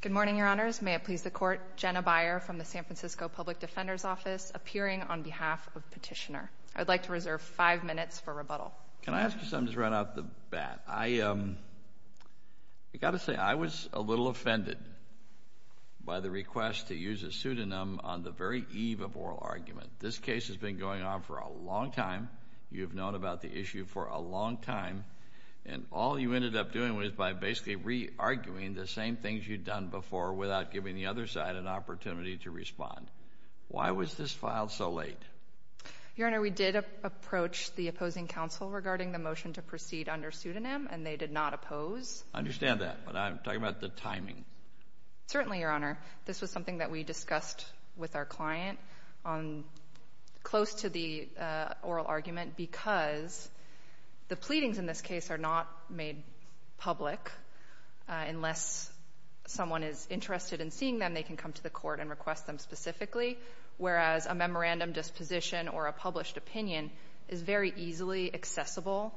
Good morning, Your Honors. May it please the Court, Jenna Beyer from the San Francisco Public Defender's Office, appearing on behalf of Petitioner. I'd like to reserve five minutes for rebuttal. Can I ask you something just right off the bat? I got to say, I was a little offended by the request to use a pseudonym on the very eve of oral argument. This case has been going on for a long time. You've known about the issue for a long time, and all you ended up doing was by basically re-arguing the same things you'd done before without giving the other side an opportunity to respond. Why was this filed so late? Your Honor, we did approach the opposing counsel regarding the motion to proceed under pseudonym, and they did not oppose. I understand that, but I'm talking about the timing. Certainly, Your Honor. This was something that we discussed with our client close to the oral argument because the pleadings in this case are not made public. Unless someone is interested in seeing them, they can come to the Court and request them specifically, whereas a memorandum disposition or a published opinion is very easily accessible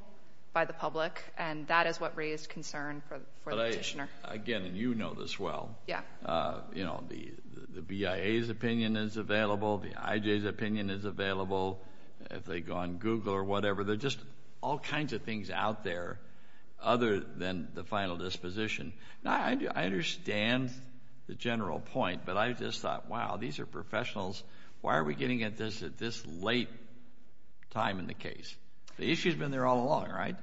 by the public, and that is what raised concern for the Petitioner. Again, and you know this well, the BIA's opinion is available. The IJ's opinion is available. If they go on Google or whatever, there are just all kinds of things out there other than the final disposition. Now, I understand the general point, but I just thought, wow, these are professionals. Why are we getting at this at this late time in the case? The issue's been there all along, right?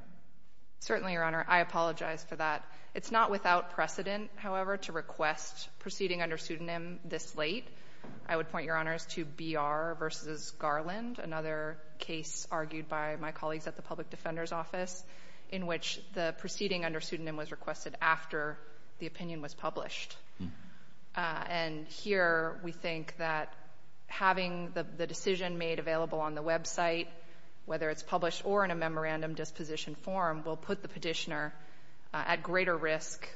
Certainly, Your Honor. I apologize for that. It's not without precedent, however, to request proceeding under pseudonym this late. I would point, Your Honors, to B.R. v. Garland, another case argued by my colleagues at the Public Defender's Office, in which the proceeding under pseudonym was requested after the opinion was published. And here we think that having the decision made available on the website, whether it's published or in a memorandum disposition form, will put the Petitioner at greater risk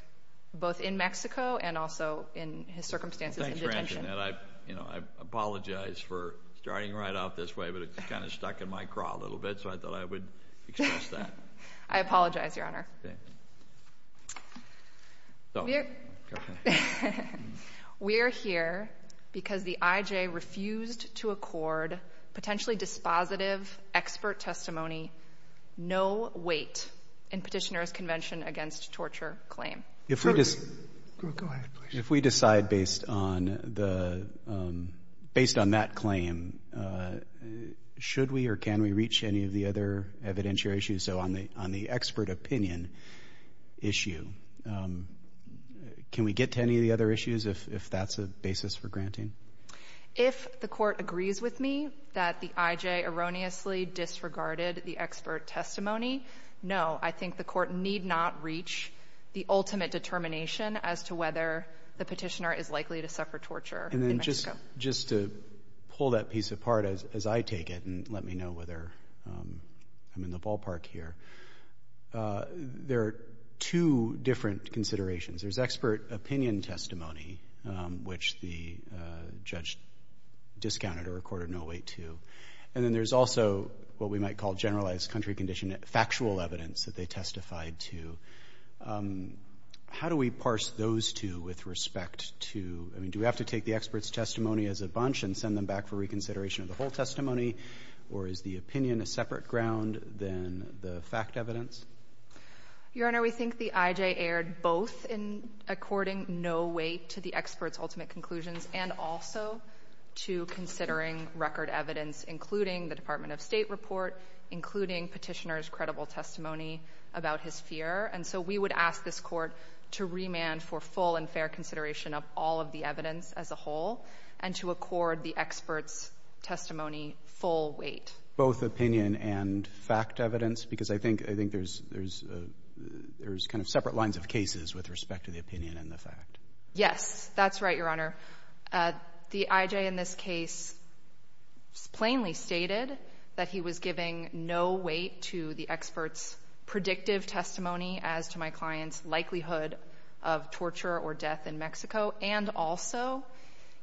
both in Mexico and also in his circumstances in detention. Thanks for mentioning that. I apologize for starting right off this way, but it kind of stuck in my craw a little bit, so I thought I would express that. I apologize, Your Honor. We are here because the IJ refused to accord potentially dispositive expert testimony, no weight, in Petitioner's Convention Against Torture claim. If we decide based on that claim, should we or can we reach any of the other evidentiary issues? So on the expert opinion issue, can we get to any of the other issues if that's a basis for granting? If the Court agrees with me that the IJ erroneously disregarded the expert testimony, no, I think the Court need not reach the ultimate determination as to whether the Petitioner is likely to suffer torture in Mexico. Just to pull that piece apart as I take it and let me know whether I'm in the ballpark here, there are two different considerations. There's expert opinion testimony, which the judge discounted or accorded no weight to. And then there's also what we might call generalized country condition factual evidence that they testified to. How do we parse those two with respect to, I mean, do we have to take the expert's testimony as a bunch and send them back for reconsideration of the whole testimony, or is the opinion a separate ground than the fact evidence? Your Honor, we think the IJ erred both in according no weight to the expert's ultimate conclusions and also to considering record evidence, including the Department of State report, including Petitioner's credible testimony about his fear. And so we would ask this Court to remand for full and fair consideration of all of the evidence as a whole and to accord the expert's testimony full weight. Both opinion and fact evidence? Because I think there's kind of separate lines of cases with respect to the opinion and the fact. Yes, that's right, Your Honor. The IJ in this case plainly stated that he was giving no weight to the expert's predictive testimony as to my client's likelihood of torture or death in Mexico, and also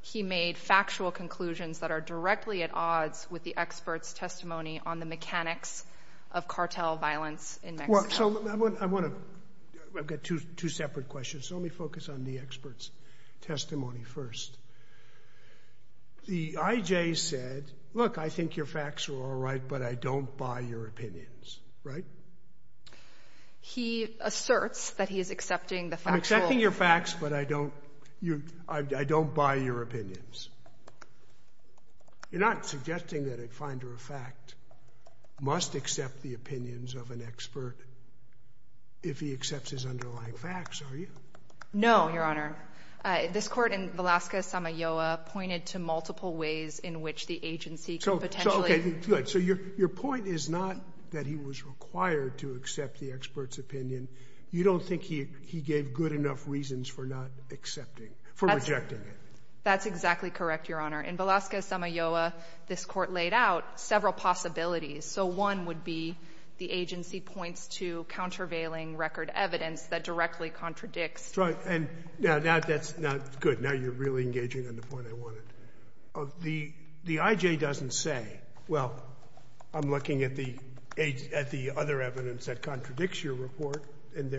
he made factual conclusions that are directly at odds with the expert's testimony on the mechanics of cartel violence in Mexico. I've got two separate questions, so let me focus on the expert's testimony first. The IJ said, look, I think your facts are all right, but I don't buy your opinions, right? He asserts that he is accepting the facts. I'm accepting your facts, but I don't buy your opinions. You're not suggesting that Finder of Fact must accept the opinions of an expert if he accepts his underlying facts, are you? No, Your Honor. This Court in Velasquez-Samayoa pointed to multiple ways in which the agency could potentially So, okay, good. So your point is not that he was required to accept the expert's opinion. You don't think he gave good enough reasons for not accepting, for rejecting it? That's exactly correct, Your Honor. In Velasquez-Samayoa, this Court laid out several possibilities. So one would be the agency points to countervailing record evidence that directly contradicts Right. And now that's not good. Now you're really engaging on the point I wanted. The IJ doesn't say, well, I'm looking at the other evidence that contradicts your report, and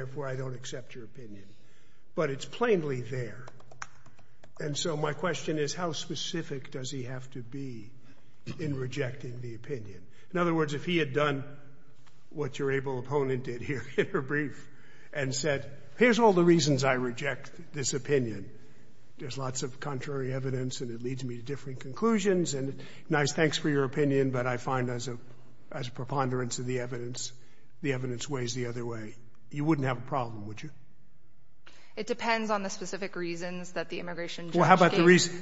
So my question is, how specific does he have to be in rejecting the opinion? In other words, if he had done what your able opponent did here in her brief and said, here's all the reasons I reject this opinion, there's lots of contrary evidence and it leads me to different conclusions and nice thanks for your opinion, but I find as a preponderance of the evidence, the evidence weighs the other way. You wouldn't have a problem, would you? It depends on the specific reasons that the immigration judge gave. So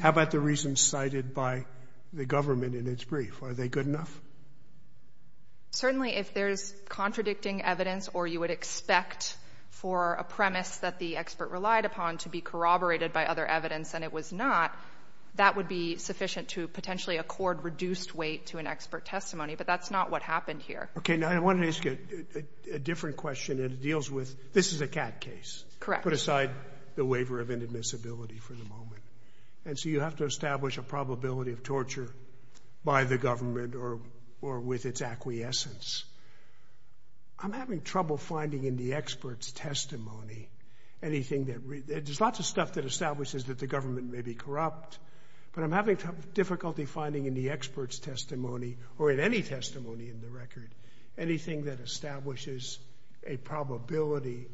how about the reasons cited by the government in its brief? Are they good enough? Certainly, if there's contradicting evidence or you would expect for a premise that the expert relied upon to be corroborated by other evidence and it was not, that would be sufficient to potentially accord reduced weight to an expert testimony, but that's not what happened here. Okay. Now I wanted to ask you a different question, and it deals with this is a CAD case. Correct. I put aside the waiver of inadmissibility for the moment, and so you have to establish a probability of torture by the government or with its acquiescence. I'm having trouble finding in the expert's testimony anything that, there's lots of stuff that establishes that the government may be corrupt, but I'm having difficulty finding in the expert's testimony or in any testimony in the record, anything that establishes a probability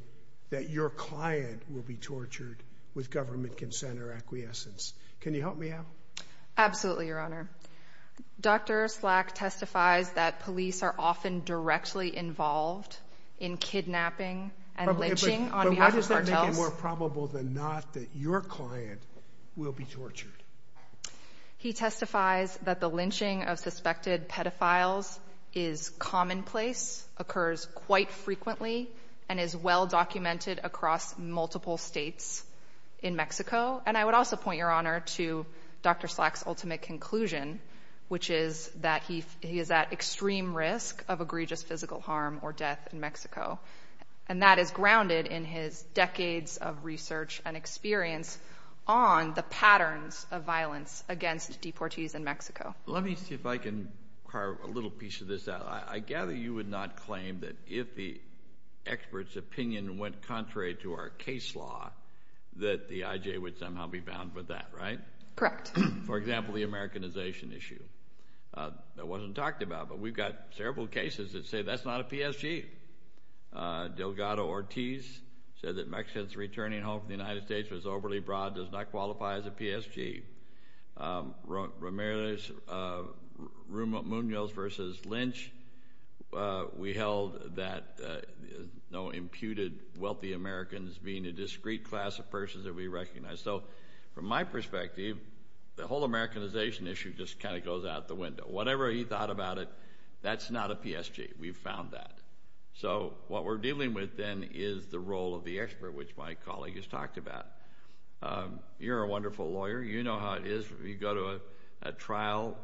that your client will be tortured with government consent or acquiescence. Can you help me out? Absolutely, Your Honor. Dr. Slack testifies that police are often directly involved in kidnapping and lynching on behalf of cartels. But what does that make it more probable than not that your client will be tortured? He testifies that the lynching of suspected pedophiles is commonplace, occurs quite frequently, and is well documented across multiple states in Mexico. And I would also point, Your Honor, to Dr. Slack's ultimate conclusion, which is that he is at extreme risk of egregious physical harm or death in Mexico. And that is grounded in his decades of research and experience on the patterns of violence against deportees in Mexico. Let me see if I can carve a little piece of this out. I gather you would not claim that if the expert's opinion went contrary to our case law, that the IJ would somehow be bound with that, right? Correct. For example, the Americanization issue. That wasn't talked about, but we've got several cases that say that's not a PSG. Delgado-Ortiz said that Mexico's returning home from the Munoz versus Lynch. We held that no imputed wealthy Americans being a discrete class of persons that we recognize. So from my perspective, the whole Americanization issue just kind of goes out the window. Whatever he thought about it, that's not a PSG. We've found that. So what we're dealing with then is the role of the expert, which my colleague has talked about. You're a wonderful lawyer. You know how it is. You go to a trial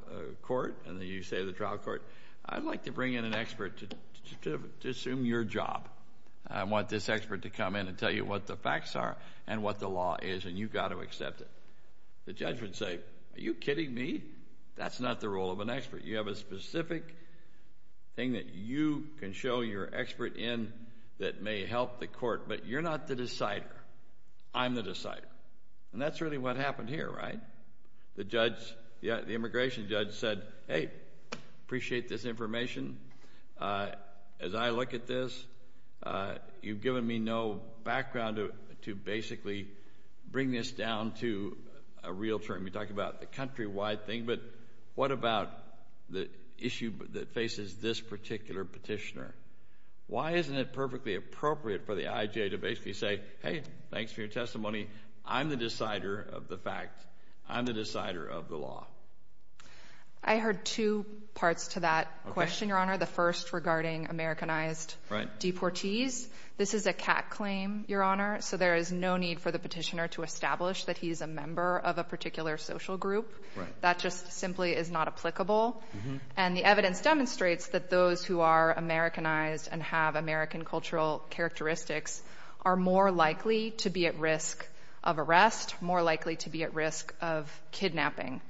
court and you say to the trial court, I'd like to bring in an expert to assume your job. I want this expert to come in and tell you what the facts are and what the law is, and you've got to accept it. The judge would say, are you kidding me? That's not the role of an expert. You have a specific thing that you can show your expert in that may help the court, but you're not the decider. I'm the decider. And that's really what happened here, right? The immigration judge said, hey, appreciate this information. As I look at this, you've given me no background to basically bring this down to a real term. We talk about the countrywide thing, but what about the issue that faces this particular petitioner? Why isn't it perfectly appropriate for the IJ to basically say, hey, thanks for your testimony. I'm the decider of the fact. I'm the decider of the law. I heard two parts to that question, Your Honor. The first regarding Americanized deportees. This is a cat claim, Your Honor, so there is no need for the petitioner to establish that he's a member of a particular social group. That just simply is not applicable. And the evidence demonstrates that those who are Americanized and have American cultural characteristics are more likely to be at risk of arrest, more likely to be at risk of kidnapping.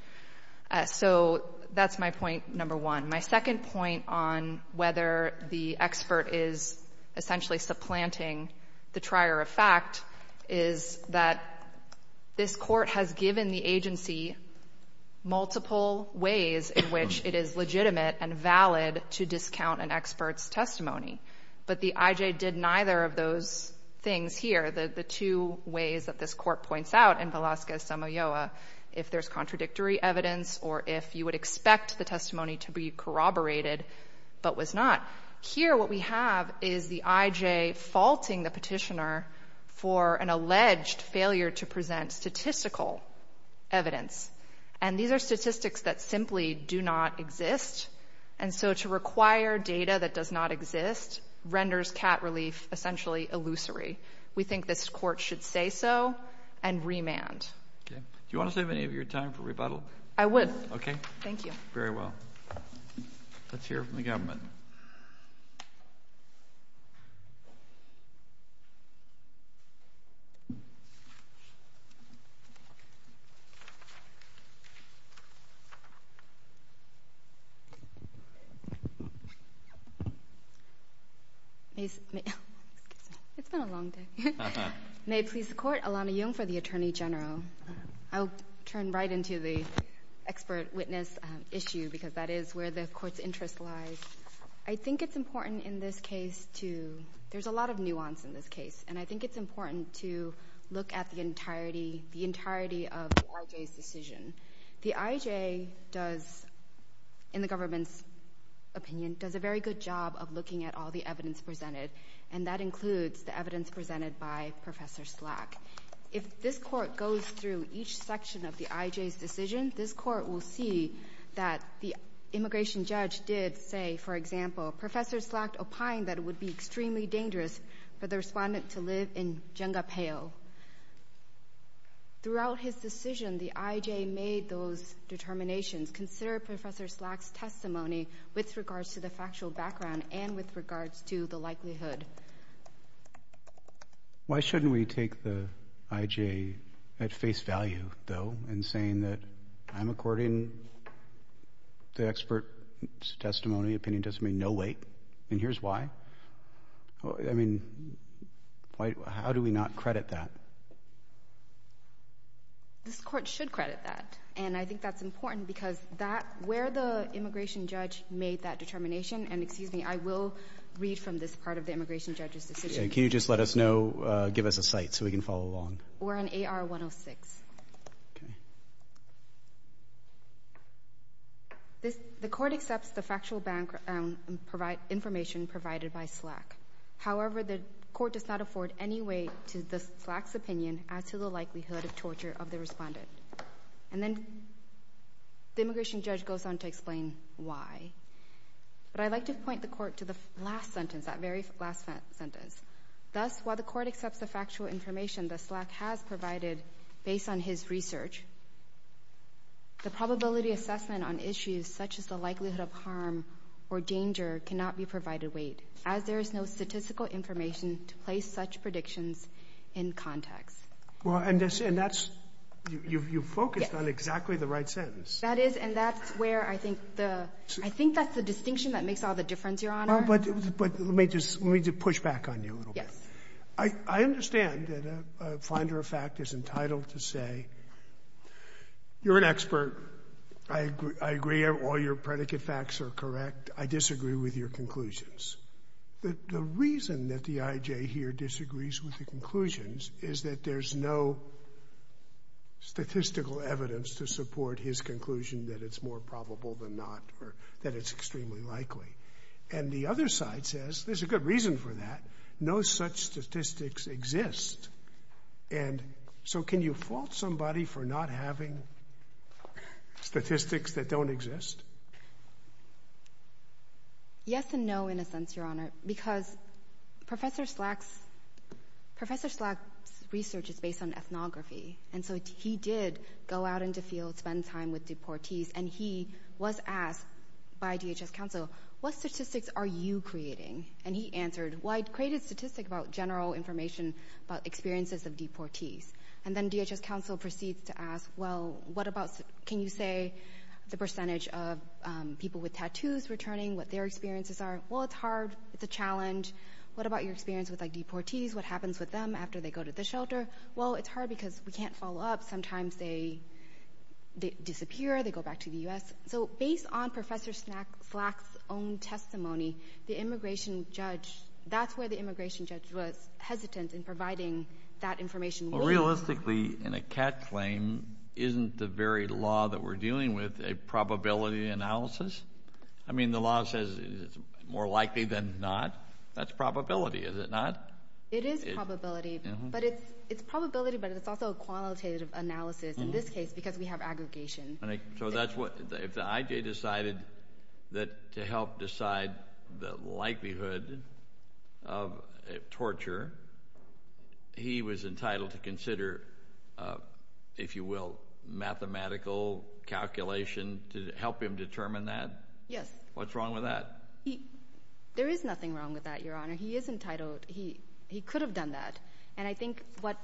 So that's my point number one. My second point on whether the expert is essentially supplanting the trier of fact is that this court has given the agency multiple ways in valid to discount an expert's testimony, but the IJ did neither of those things here. The two ways that this court points out in Velasquez-Samoa, if there's contradictory evidence or if you would expect the testimony to be corroborated, but was not. Here what we have is the IJ faulting the petitioner for an alleged failure to present statistical evidence. And these are statistics that simply do not exist, and so to require data that does not exist renders cat relief essentially illusory. We think this court should say so and remand. Okay. Do you want to save any of your time for rebuttal? I would. Okay. Thank you. Very well. Let's hear from the government. It's been a long day. May it please the court, Alana Young for the Attorney General. I'll turn right into the expert witness issue because that is where the court's interest lies. I think it's important in this case to, there's a lot of nuance in this case, and I think it's important to look at the entirety of the IJ's decision. The IJ does, in the government's opinion, does a very good job of looking at all the evidence presented, and that includes the evidence presented by Professor Slack. If this court goes through each section of the IJ's decision, this court will see that the immigration judge did say, for example, Professor Slack opined that it would be extremely dangerous for the Respondent to live in Jengapayo. Throughout his decision, the IJ made those determinations. Consider Professor Slack's testimony with regards to the factual background and with regards to the likelihood. Why shouldn't we take the IJ at face value, though, in saying that I'm according to expert testimony, opinion testimony, no wait, and here's why? I mean, how do we not credit that? This court should credit that, and I think that's important because where the immigration judge made that determination, and excuse me, I will read from this part of the immigration judge's decision. Can you just let us know, give us a site so we can follow along? We're on AR 106. The court accepts the factual background information provided by Slack. However, the court does not afford any weight to Slack's opinion as to the likelihood of The immigration judge goes on to explain why, but I'd like to point the court to the last sentence, that very last sentence. Thus, while the court accepts the factual information that Slack has provided based on his research, the probability assessment on issues such as the likelihood of harm or danger cannot be provided weight, as there is no statistical information to place such predictions in context. Well, and that's, you've focused on exactly the right sentence. That is, and that's where I think the, I think that's the distinction that makes all the difference, Your Honor. Well, but let me just, let me just push back on you a little bit. Yes. I understand that a finder of fact is entitled to say, you're an expert, I agree all your predicate facts are correct, I disagree with your conclusions. The reason that the I.J. here disagrees with the conclusions is that there's no statistical evidence to support his conclusion that it's more probable than not, or that it's extremely likely. And the other side says, there's a good reason for that, no such statistics exist. And so can you fault somebody for not having statistics that don't exist? Yes and no, in a sense, Your Honor, because Professor Slack's, Professor Slack's research is based on ethnography. And so he did go out into fields, spend time with deportees, and he was asked by DHS counsel, what statistics are you creating? And he answered, well, I created statistics about general information about experiences of deportees. And then DHS counsel proceeds to ask, well, what about, can you say the percentage of people with tattoos returning, what their experiences are? Well, it's hard, it's a challenge. What about your experience with like deportees? What happens with them after they go to the shelter? Well, it's hard because we can't follow up. Sometimes they, they disappear, they go back to the U.S. So based on Professor Slack's own testimony, the immigration judge, that's where the immigration judge was hesitant in providing that information. Well, realistically, in a cat claim, isn't the very law that we're dealing with a probability analysis? I mean, the law says it's more likely than not. That's probability, is it not? It is probability, but it's, it's probability, but it's also a qualitative analysis, in this case, because we have aggregation. So that's what, if the IJ decided that to help decide the likelihood of torture, he was entitled to consider, if you will, mathematical calculation to help him determine that? Yes. What's wrong with that? There is nothing wrong with that, Your Honor. He is entitled. He, he could have done that, and I think what,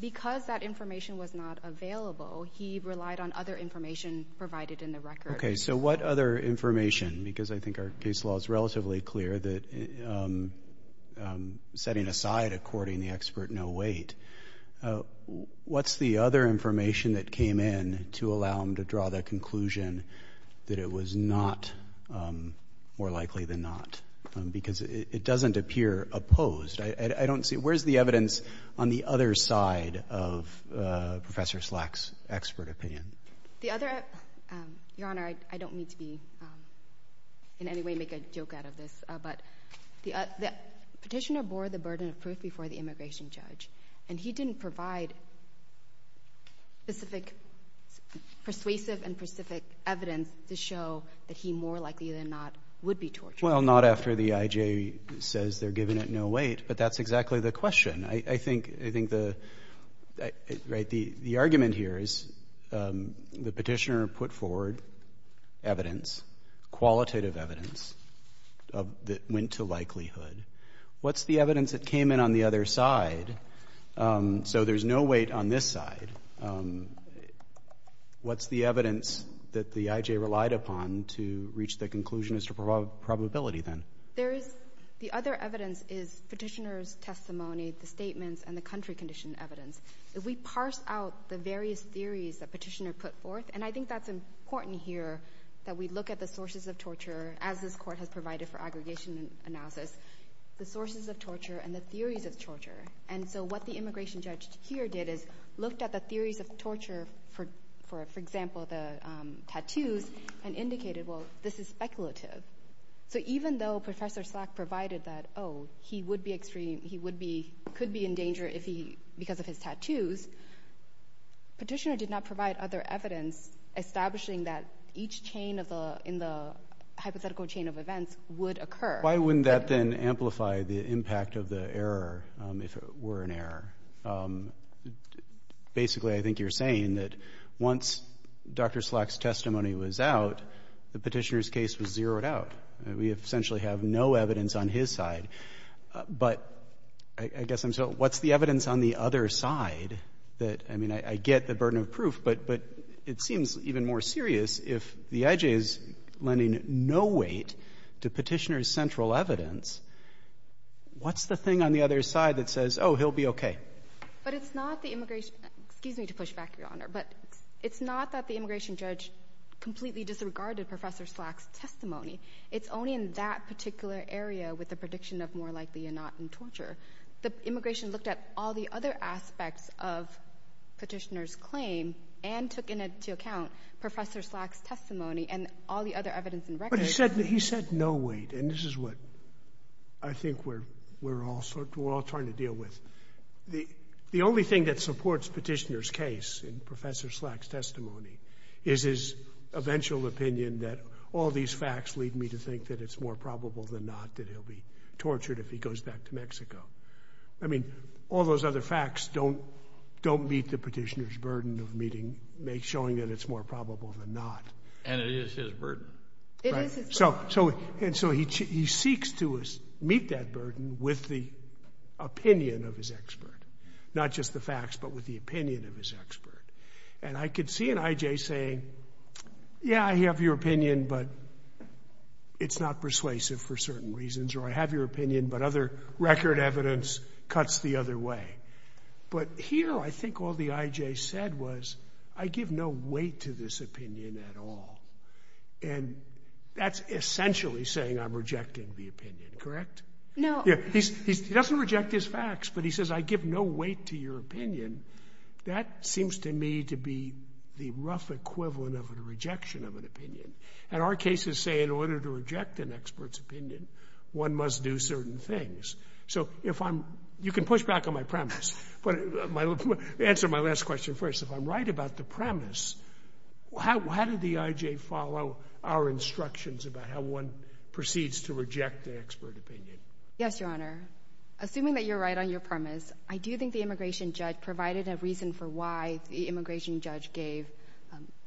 because that information was not available, he relied on other information provided in the record. Okay, so what other information, because I think our case law is relatively clear that, setting aside according the expert no wait, what's the other information that came in to allow him to draw the conclusion that it was not more likely than not? Because it doesn't appear opposed. I, I don't see, where's the evidence on the other side of Professor Slack's expert opinion? The other, Your Honor, I, I don't mean to be, in any way make a joke out of this, but the, the Petitioner bore the burden of proof before the immigration judge, and he didn't provide specific persuasive and specific evidence to show that the he more likely than not would be tortured. Well, not after the IJ says they're giving it no wait, but that's exactly the question. I, I think, I think the, right, the, the argument here is the Petitioner put forward evidence, qualitative evidence, that went to likelihood. What's the evidence that came in on the other side? So there's no wait on this side. What's the evidence that the IJ relied upon to reach the conclusion as to probability then? There is, the other evidence is Petitioner's testimony, the statements, and the country condition evidence. If we parse out the various theories that Petitioner put forth, and I think that's important here, that we look at the sources of torture, as this court has provided for aggregation analysis, the sources of torture and the theories of torture. And so what the immigration judge here did is looked at the theories of torture for, for example, the tattoos, and indicated, well, this is speculative. So even though Professor Slack provided that, oh, he would be extreme, he would be, could be in danger if he, because of his tattoos, Petitioner did not provide other evidence establishing that each chain of the, in the hypothetical chain of events would occur. Why wouldn't that then amplify the impact of the error if there were an error? Basically, I think you're saying that once Dr. Slack's testimony was out, the Petitioner's case was zeroed out. We essentially have no evidence on his side. But I guess I'm still, what's the evidence on the other side that, I mean, I get the burden of proof, but, but it seems even more serious if the IJ is lending no weight to Petitioner's central evidence. What's the thing on the other side that says, oh, he'll be okay? But it's not the immigration, excuse me to push back, Your Honor, but it's not that the immigration judge completely disregarded Professor Slack's testimony. It's only in that particular area with the prediction of more likely or not in torture. The immigration looked at all the other aspects of Petitioner's claim and took into account Professor Slack's testimony and all the other evidence in record. But he said, he said no weight, and this is what I think we're, we're all, we're all trying to deal with. The, the only thing that supports Petitioner's case in Professor Slack's testimony is his eventual opinion that all these facts lead me to think that it's more probable than not that he'll be tortured if he goes back to Mexico. I mean, all those other facts don't, don't meet the Petitioner's burden of meeting, showing that it's more probable than not. And it is his burden. It is his burden. So, so, and so he, he seeks to meet that burden with the opinion of his expert, not just the facts, but with the opinion of his expert. And I could see an IJ saying, yeah, I have your opinion, but it's not persuasive for certain reasons, or I have your opinion, but other record evidence cuts the other way. But here, I think all the IJ said was, I give no weight to this opinion at all. And that's essentially saying I'm rejecting the opinion, correct? No. Yeah, he's, he's, he doesn't reject his facts, but he says, I give no weight to your opinion. That seems to me to be the rough equivalent of a rejection of an opinion. And our cases say in order to reject an expert's opinion, one must do certain things. So if I'm, you can push back on my premise, but my, answer my last question first. If I'm right about the premise, how, how did the IJ follow our instructions about how one proceeds to reject the expert opinion? Yes, Your Honor. Assuming that you're right on your premise, I do think the immigration judge provided a reason for why the immigration judge gave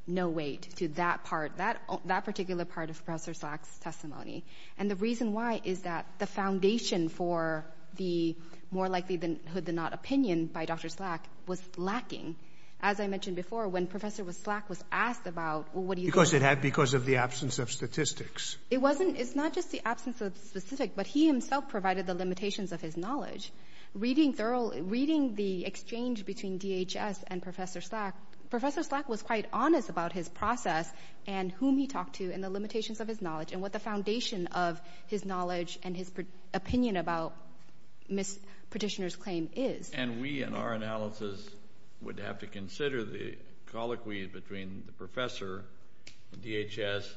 no weight to that part, that, that particular part of Professor Slack's testimony. And the reason why is that the foundation for the more likely than, hood than not opinion by Dr. Slack was lacking. As I mentioned before, when Professor Slack was asked about what do you think? Because it had, because of the absence of statistics. It wasn't, it's not just the absence of the specific, but he himself provided the limitations of his knowledge. Reading thoroughly, reading the exchange between DHS and Professor Slack, Professor Slack was quite honest about his process and whom he talked to and the limitations of his knowledge and what the foundation of his knowledge and his opinion about Ms. Petitioner's And we, in our analysis, would have to consider the colloquy between the professor, DHS,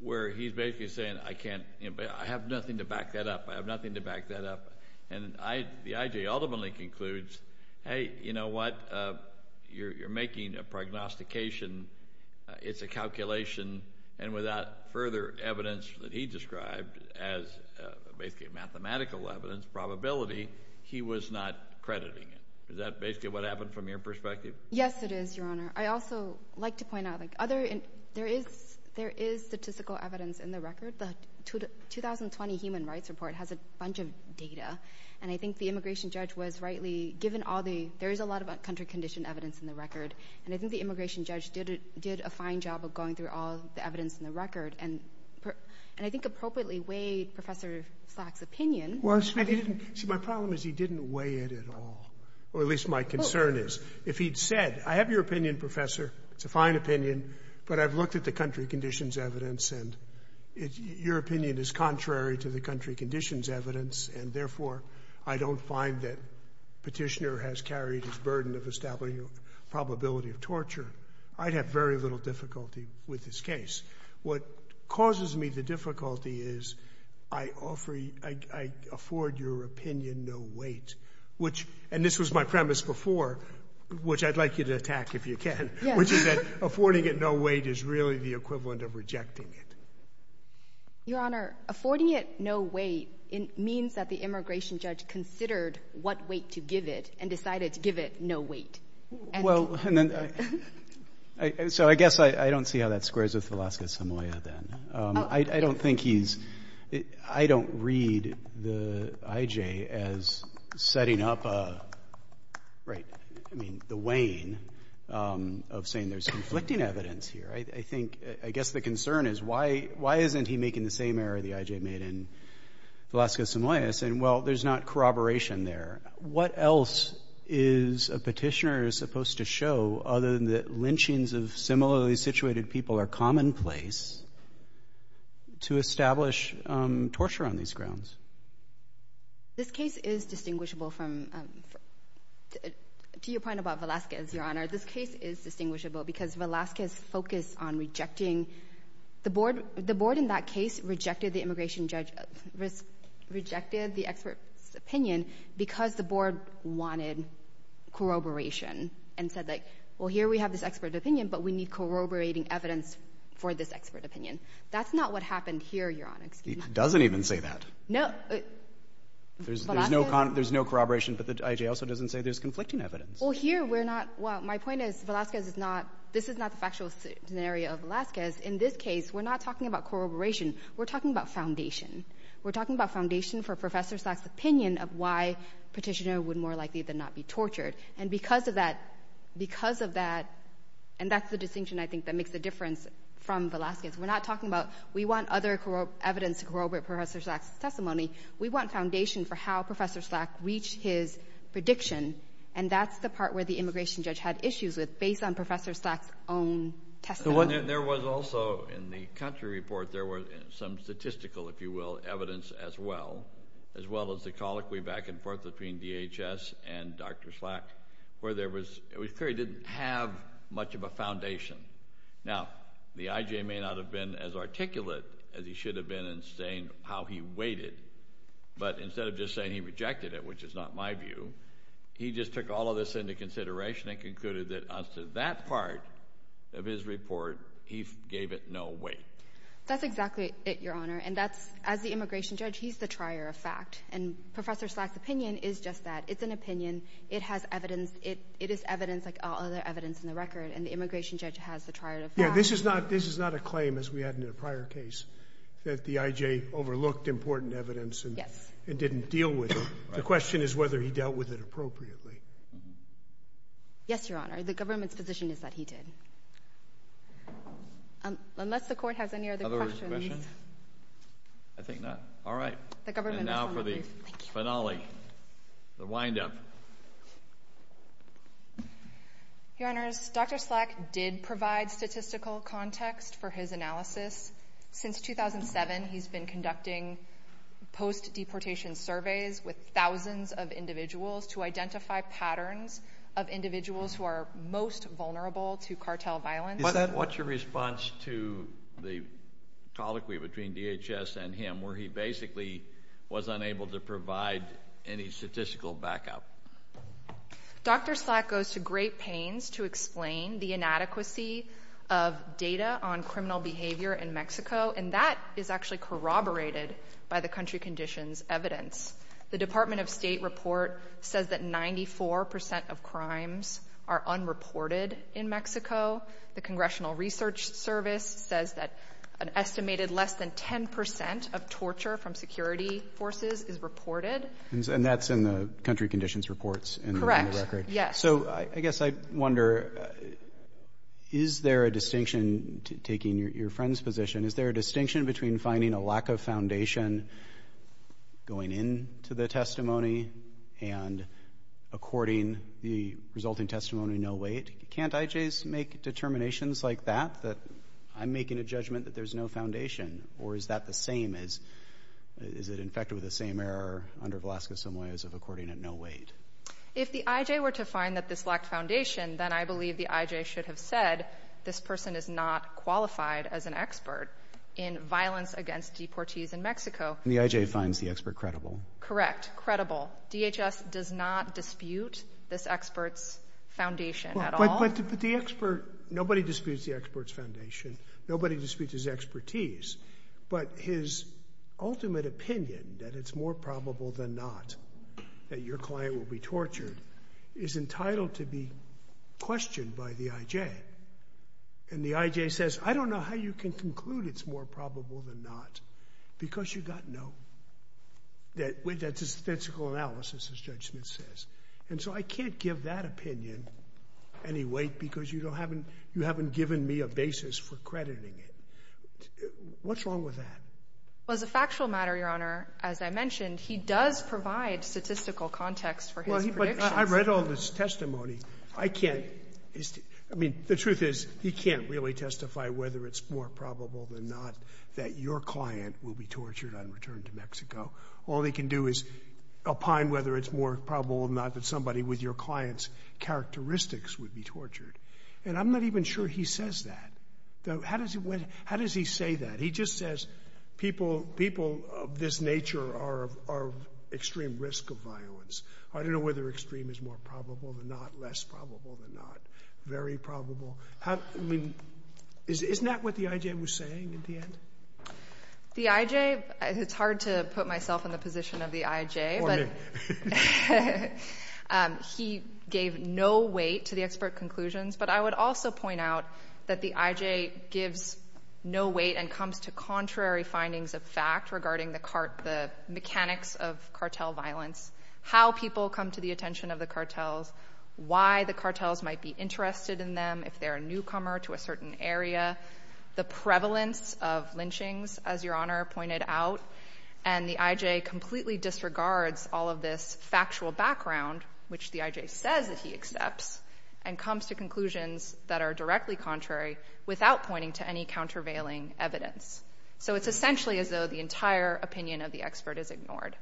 where he's basically saying, I can't, you know, I have nothing to back that up. I have nothing to back that up. And I, the IJ ultimately concludes, hey, you know what? You're, you're making a prognostication. It's a calculation. And without further evidence that he described as basically mathematical evidence, probability, he was not crediting it. Is that basically what happened from your perspective? Yes, it is, Your Honor. I also like to point out like other, there is, there is statistical evidence in the record. The 2020 Human Rights Report has a bunch of data. And I think the immigration judge was rightly, given all the, there is a lot of country condition evidence in the record. And I think the immigration judge did, did a fine job of going through all the evidence in the record. And, and I think appropriately weighed Professor Slack's opinion. Well, see, my problem is he didn't weigh it at all, or at least my concern is. If he'd said, I have your opinion, Professor. It's a fine opinion. But I've looked at the country conditions evidence. And your opinion is contrary to the country conditions evidence. And therefore, I don't find that Petitioner has carried his burden of establishing a probability of torture. I'd have very little difficulty with his case. What causes me the difficulty is I offer, I, I afford your opinion no weight. Which, and this was my premise before, which I'd like you to attack if you can. Yes. Which is that affording it no weight is really the equivalent of rejecting it. Your Honor, affording it no weight means that the immigration judge considered what weight to give it and decided to give it no weight. Well, and then, I, so I guess I, I don't see how that squares with Velasquez-Samoa then. I, I don't think he's, I don't read the IJ as setting up a, right, I mean the weighing of saying there's conflicting evidence here. I, I think, I guess the concern is why, why isn't he making the same error the IJ made in Velasquez-Samoa bias? And, well, there's not corroboration there. What else is a petitioner supposed to show other than that lynchings of similarly situated people are commonplace to establish torture on these grounds? This case is distinguishable from, to your point about Velasquez, Your Honor, this case is distinguishable because Velasquez focused on rejecting the board. The board in that case rejected the immigration judge, rejected the expert's opinion because the board wanted corroboration and said, like, well, here we have this expert opinion, but we need corroborating evidence for this expert opinion. That's not what happened here, Your Honor. Excuse me. He doesn't even say that. No. Velasquez- There's, there's no, there's no corroboration, but the IJ also doesn't say there's conflicting evidence. Well, here we're not, well, my point is Velasquez is not, this is not the factual scenario of Velasquez. In this case, we're not talking about corroboration. We're talking about foundation. We're talking about foundation for Professor Slack's opinion of why a petitioner would more likely than not be tortured. And because of that, because of that, and that's the distinction I think that makes the difference from Velasquez. We're not talking about, we want other evidence to corroborate Professor Slack's testimony. We want foundation for how Professor Slack reached his prediction, and that's the part where the immigration judge had issues with, based on Professor Slack's own testimony. There was also, in the country report, there was some statistical, if you will, evidence as well, as well as the colloquy back and forth between DHS and Dr. Slack, where there was, it was clear he didn't have much of a foundation. Now, the IJ may not have been as articulate as he should have been in saying how he weighted, but instead of just saying he rejected it, which is not my view, he just took all of this into consideration and concluded that as to that part of his report, he gave it no weight. That's exactly it, Your Honor, and that's, as the immigration judge, he's the trier of fact, and Professor Slack's opinion is just that. It's an opinion, it has evidence, it is evidence like all other evidence in the record, and the immigration judge has the trier of fact. Yeah, this is not, this is not a claim as we had in a prior case, that the IJ overlooked important evidence and didn't deal with it. The question is whether he dealt with it appropriately. Yes, Your Honor, the government's position is that he did. Unless the court has any other questions. Other questions? I think not. All right. The government is on the case. And now for the finale, the wind-up. Your Honors, Dr. Slack did provide statistical context for his analysis. Since 2007, he's been conducting post-deportation surveys with thousands of individuals to identify patterns of individuals who are most vulnerable to cartel violence. What's your response to the colloquy between DHS and him, where he basically was unable to provide any statistical backup? Dr. Slack goes to great pains to explain the inadequacy of data on criminal behavior in Mexico, which is corroborated by the country conditions evidence. The Department of State report says that 94% of crimes are unreported in Mexico. The Congressional Research Service says that an estimated less than 10% of torture from security forces is reported. And that's in the country conditions reports in the record. Correct. Yes. So I guess I wonder, is there a distinction, taking your friend's position, is there a lack of foundation going into the testimony, and according to the resulting testimony, no weight? Can't IJs make determinations like that, that I'm making a judgment that there's no foundation? Or is that the same as, is it infected with the same error under Velasquez-Samoa as of according to no weight? If the IJ were to find that this lacked foundation, then I believe the IJ should have said, this person is not qualified as an expert in violence against deportees in Mexico. And the IJ finds the expert credible? Correct. Credible. DHS does not dispute this expert's foundation at all. But the expert, nobody disputes the expert's foundation. Nobody disputes his expertise. But his ultimate opinion, that it's more probable than not that your client will be tortured, is entitled to be questioned by the IJ. And the IJ says, I don't know how you can conclude it's more probable than not, because you've got no, that's a statistical analysis, as Judge Smith says. And so I can't give that opinion any weight because you don't have, you haven't given me a basis for crediting it. What's wrong with that? Well, as a factual matter, Your Honor, as I mentioned, he does provide statistical context for his prediction. I read all this testimony. I can't, I mean, the truth is, he can't really testify whether it's more probable than not that your client will be tortured on return to Mexico. All he can do is opine whether it's more probable than not that somebody with your client's characteristics would be tortured. And I'm not even sure he says that. How does he say that? He just says, people of this nature are of extreme risk of violence. I don't know whether extreme is more probable than not, less probable than not, very probable. I mean, isn't that what the IJ was saying at the end? The IJ, it's hard to put myself in the position of the IJ, but he gave no weight to the expert conclusions. But I would also point out that the IJ gives no weight and comes to contrary the attention of the cartels, why the cartels might be interested in them, if they're a newcomer to a certain area, the prevalence of lynchings, as Your Honor pointed out. And the IJ completely disregards all of this factual background, which the IJ says that he accepts, and comes to conclusions that are directly contrary without pointing to any countervailing evidence. So it's essentially as though the entire opinion of the expert is ignored.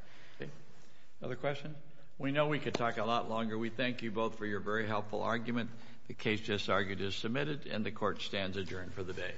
Another question? We know we could talk a lot longer. We thank you both for your very helpful argument. The case just argued is submitted and the court stands adjourned for the day.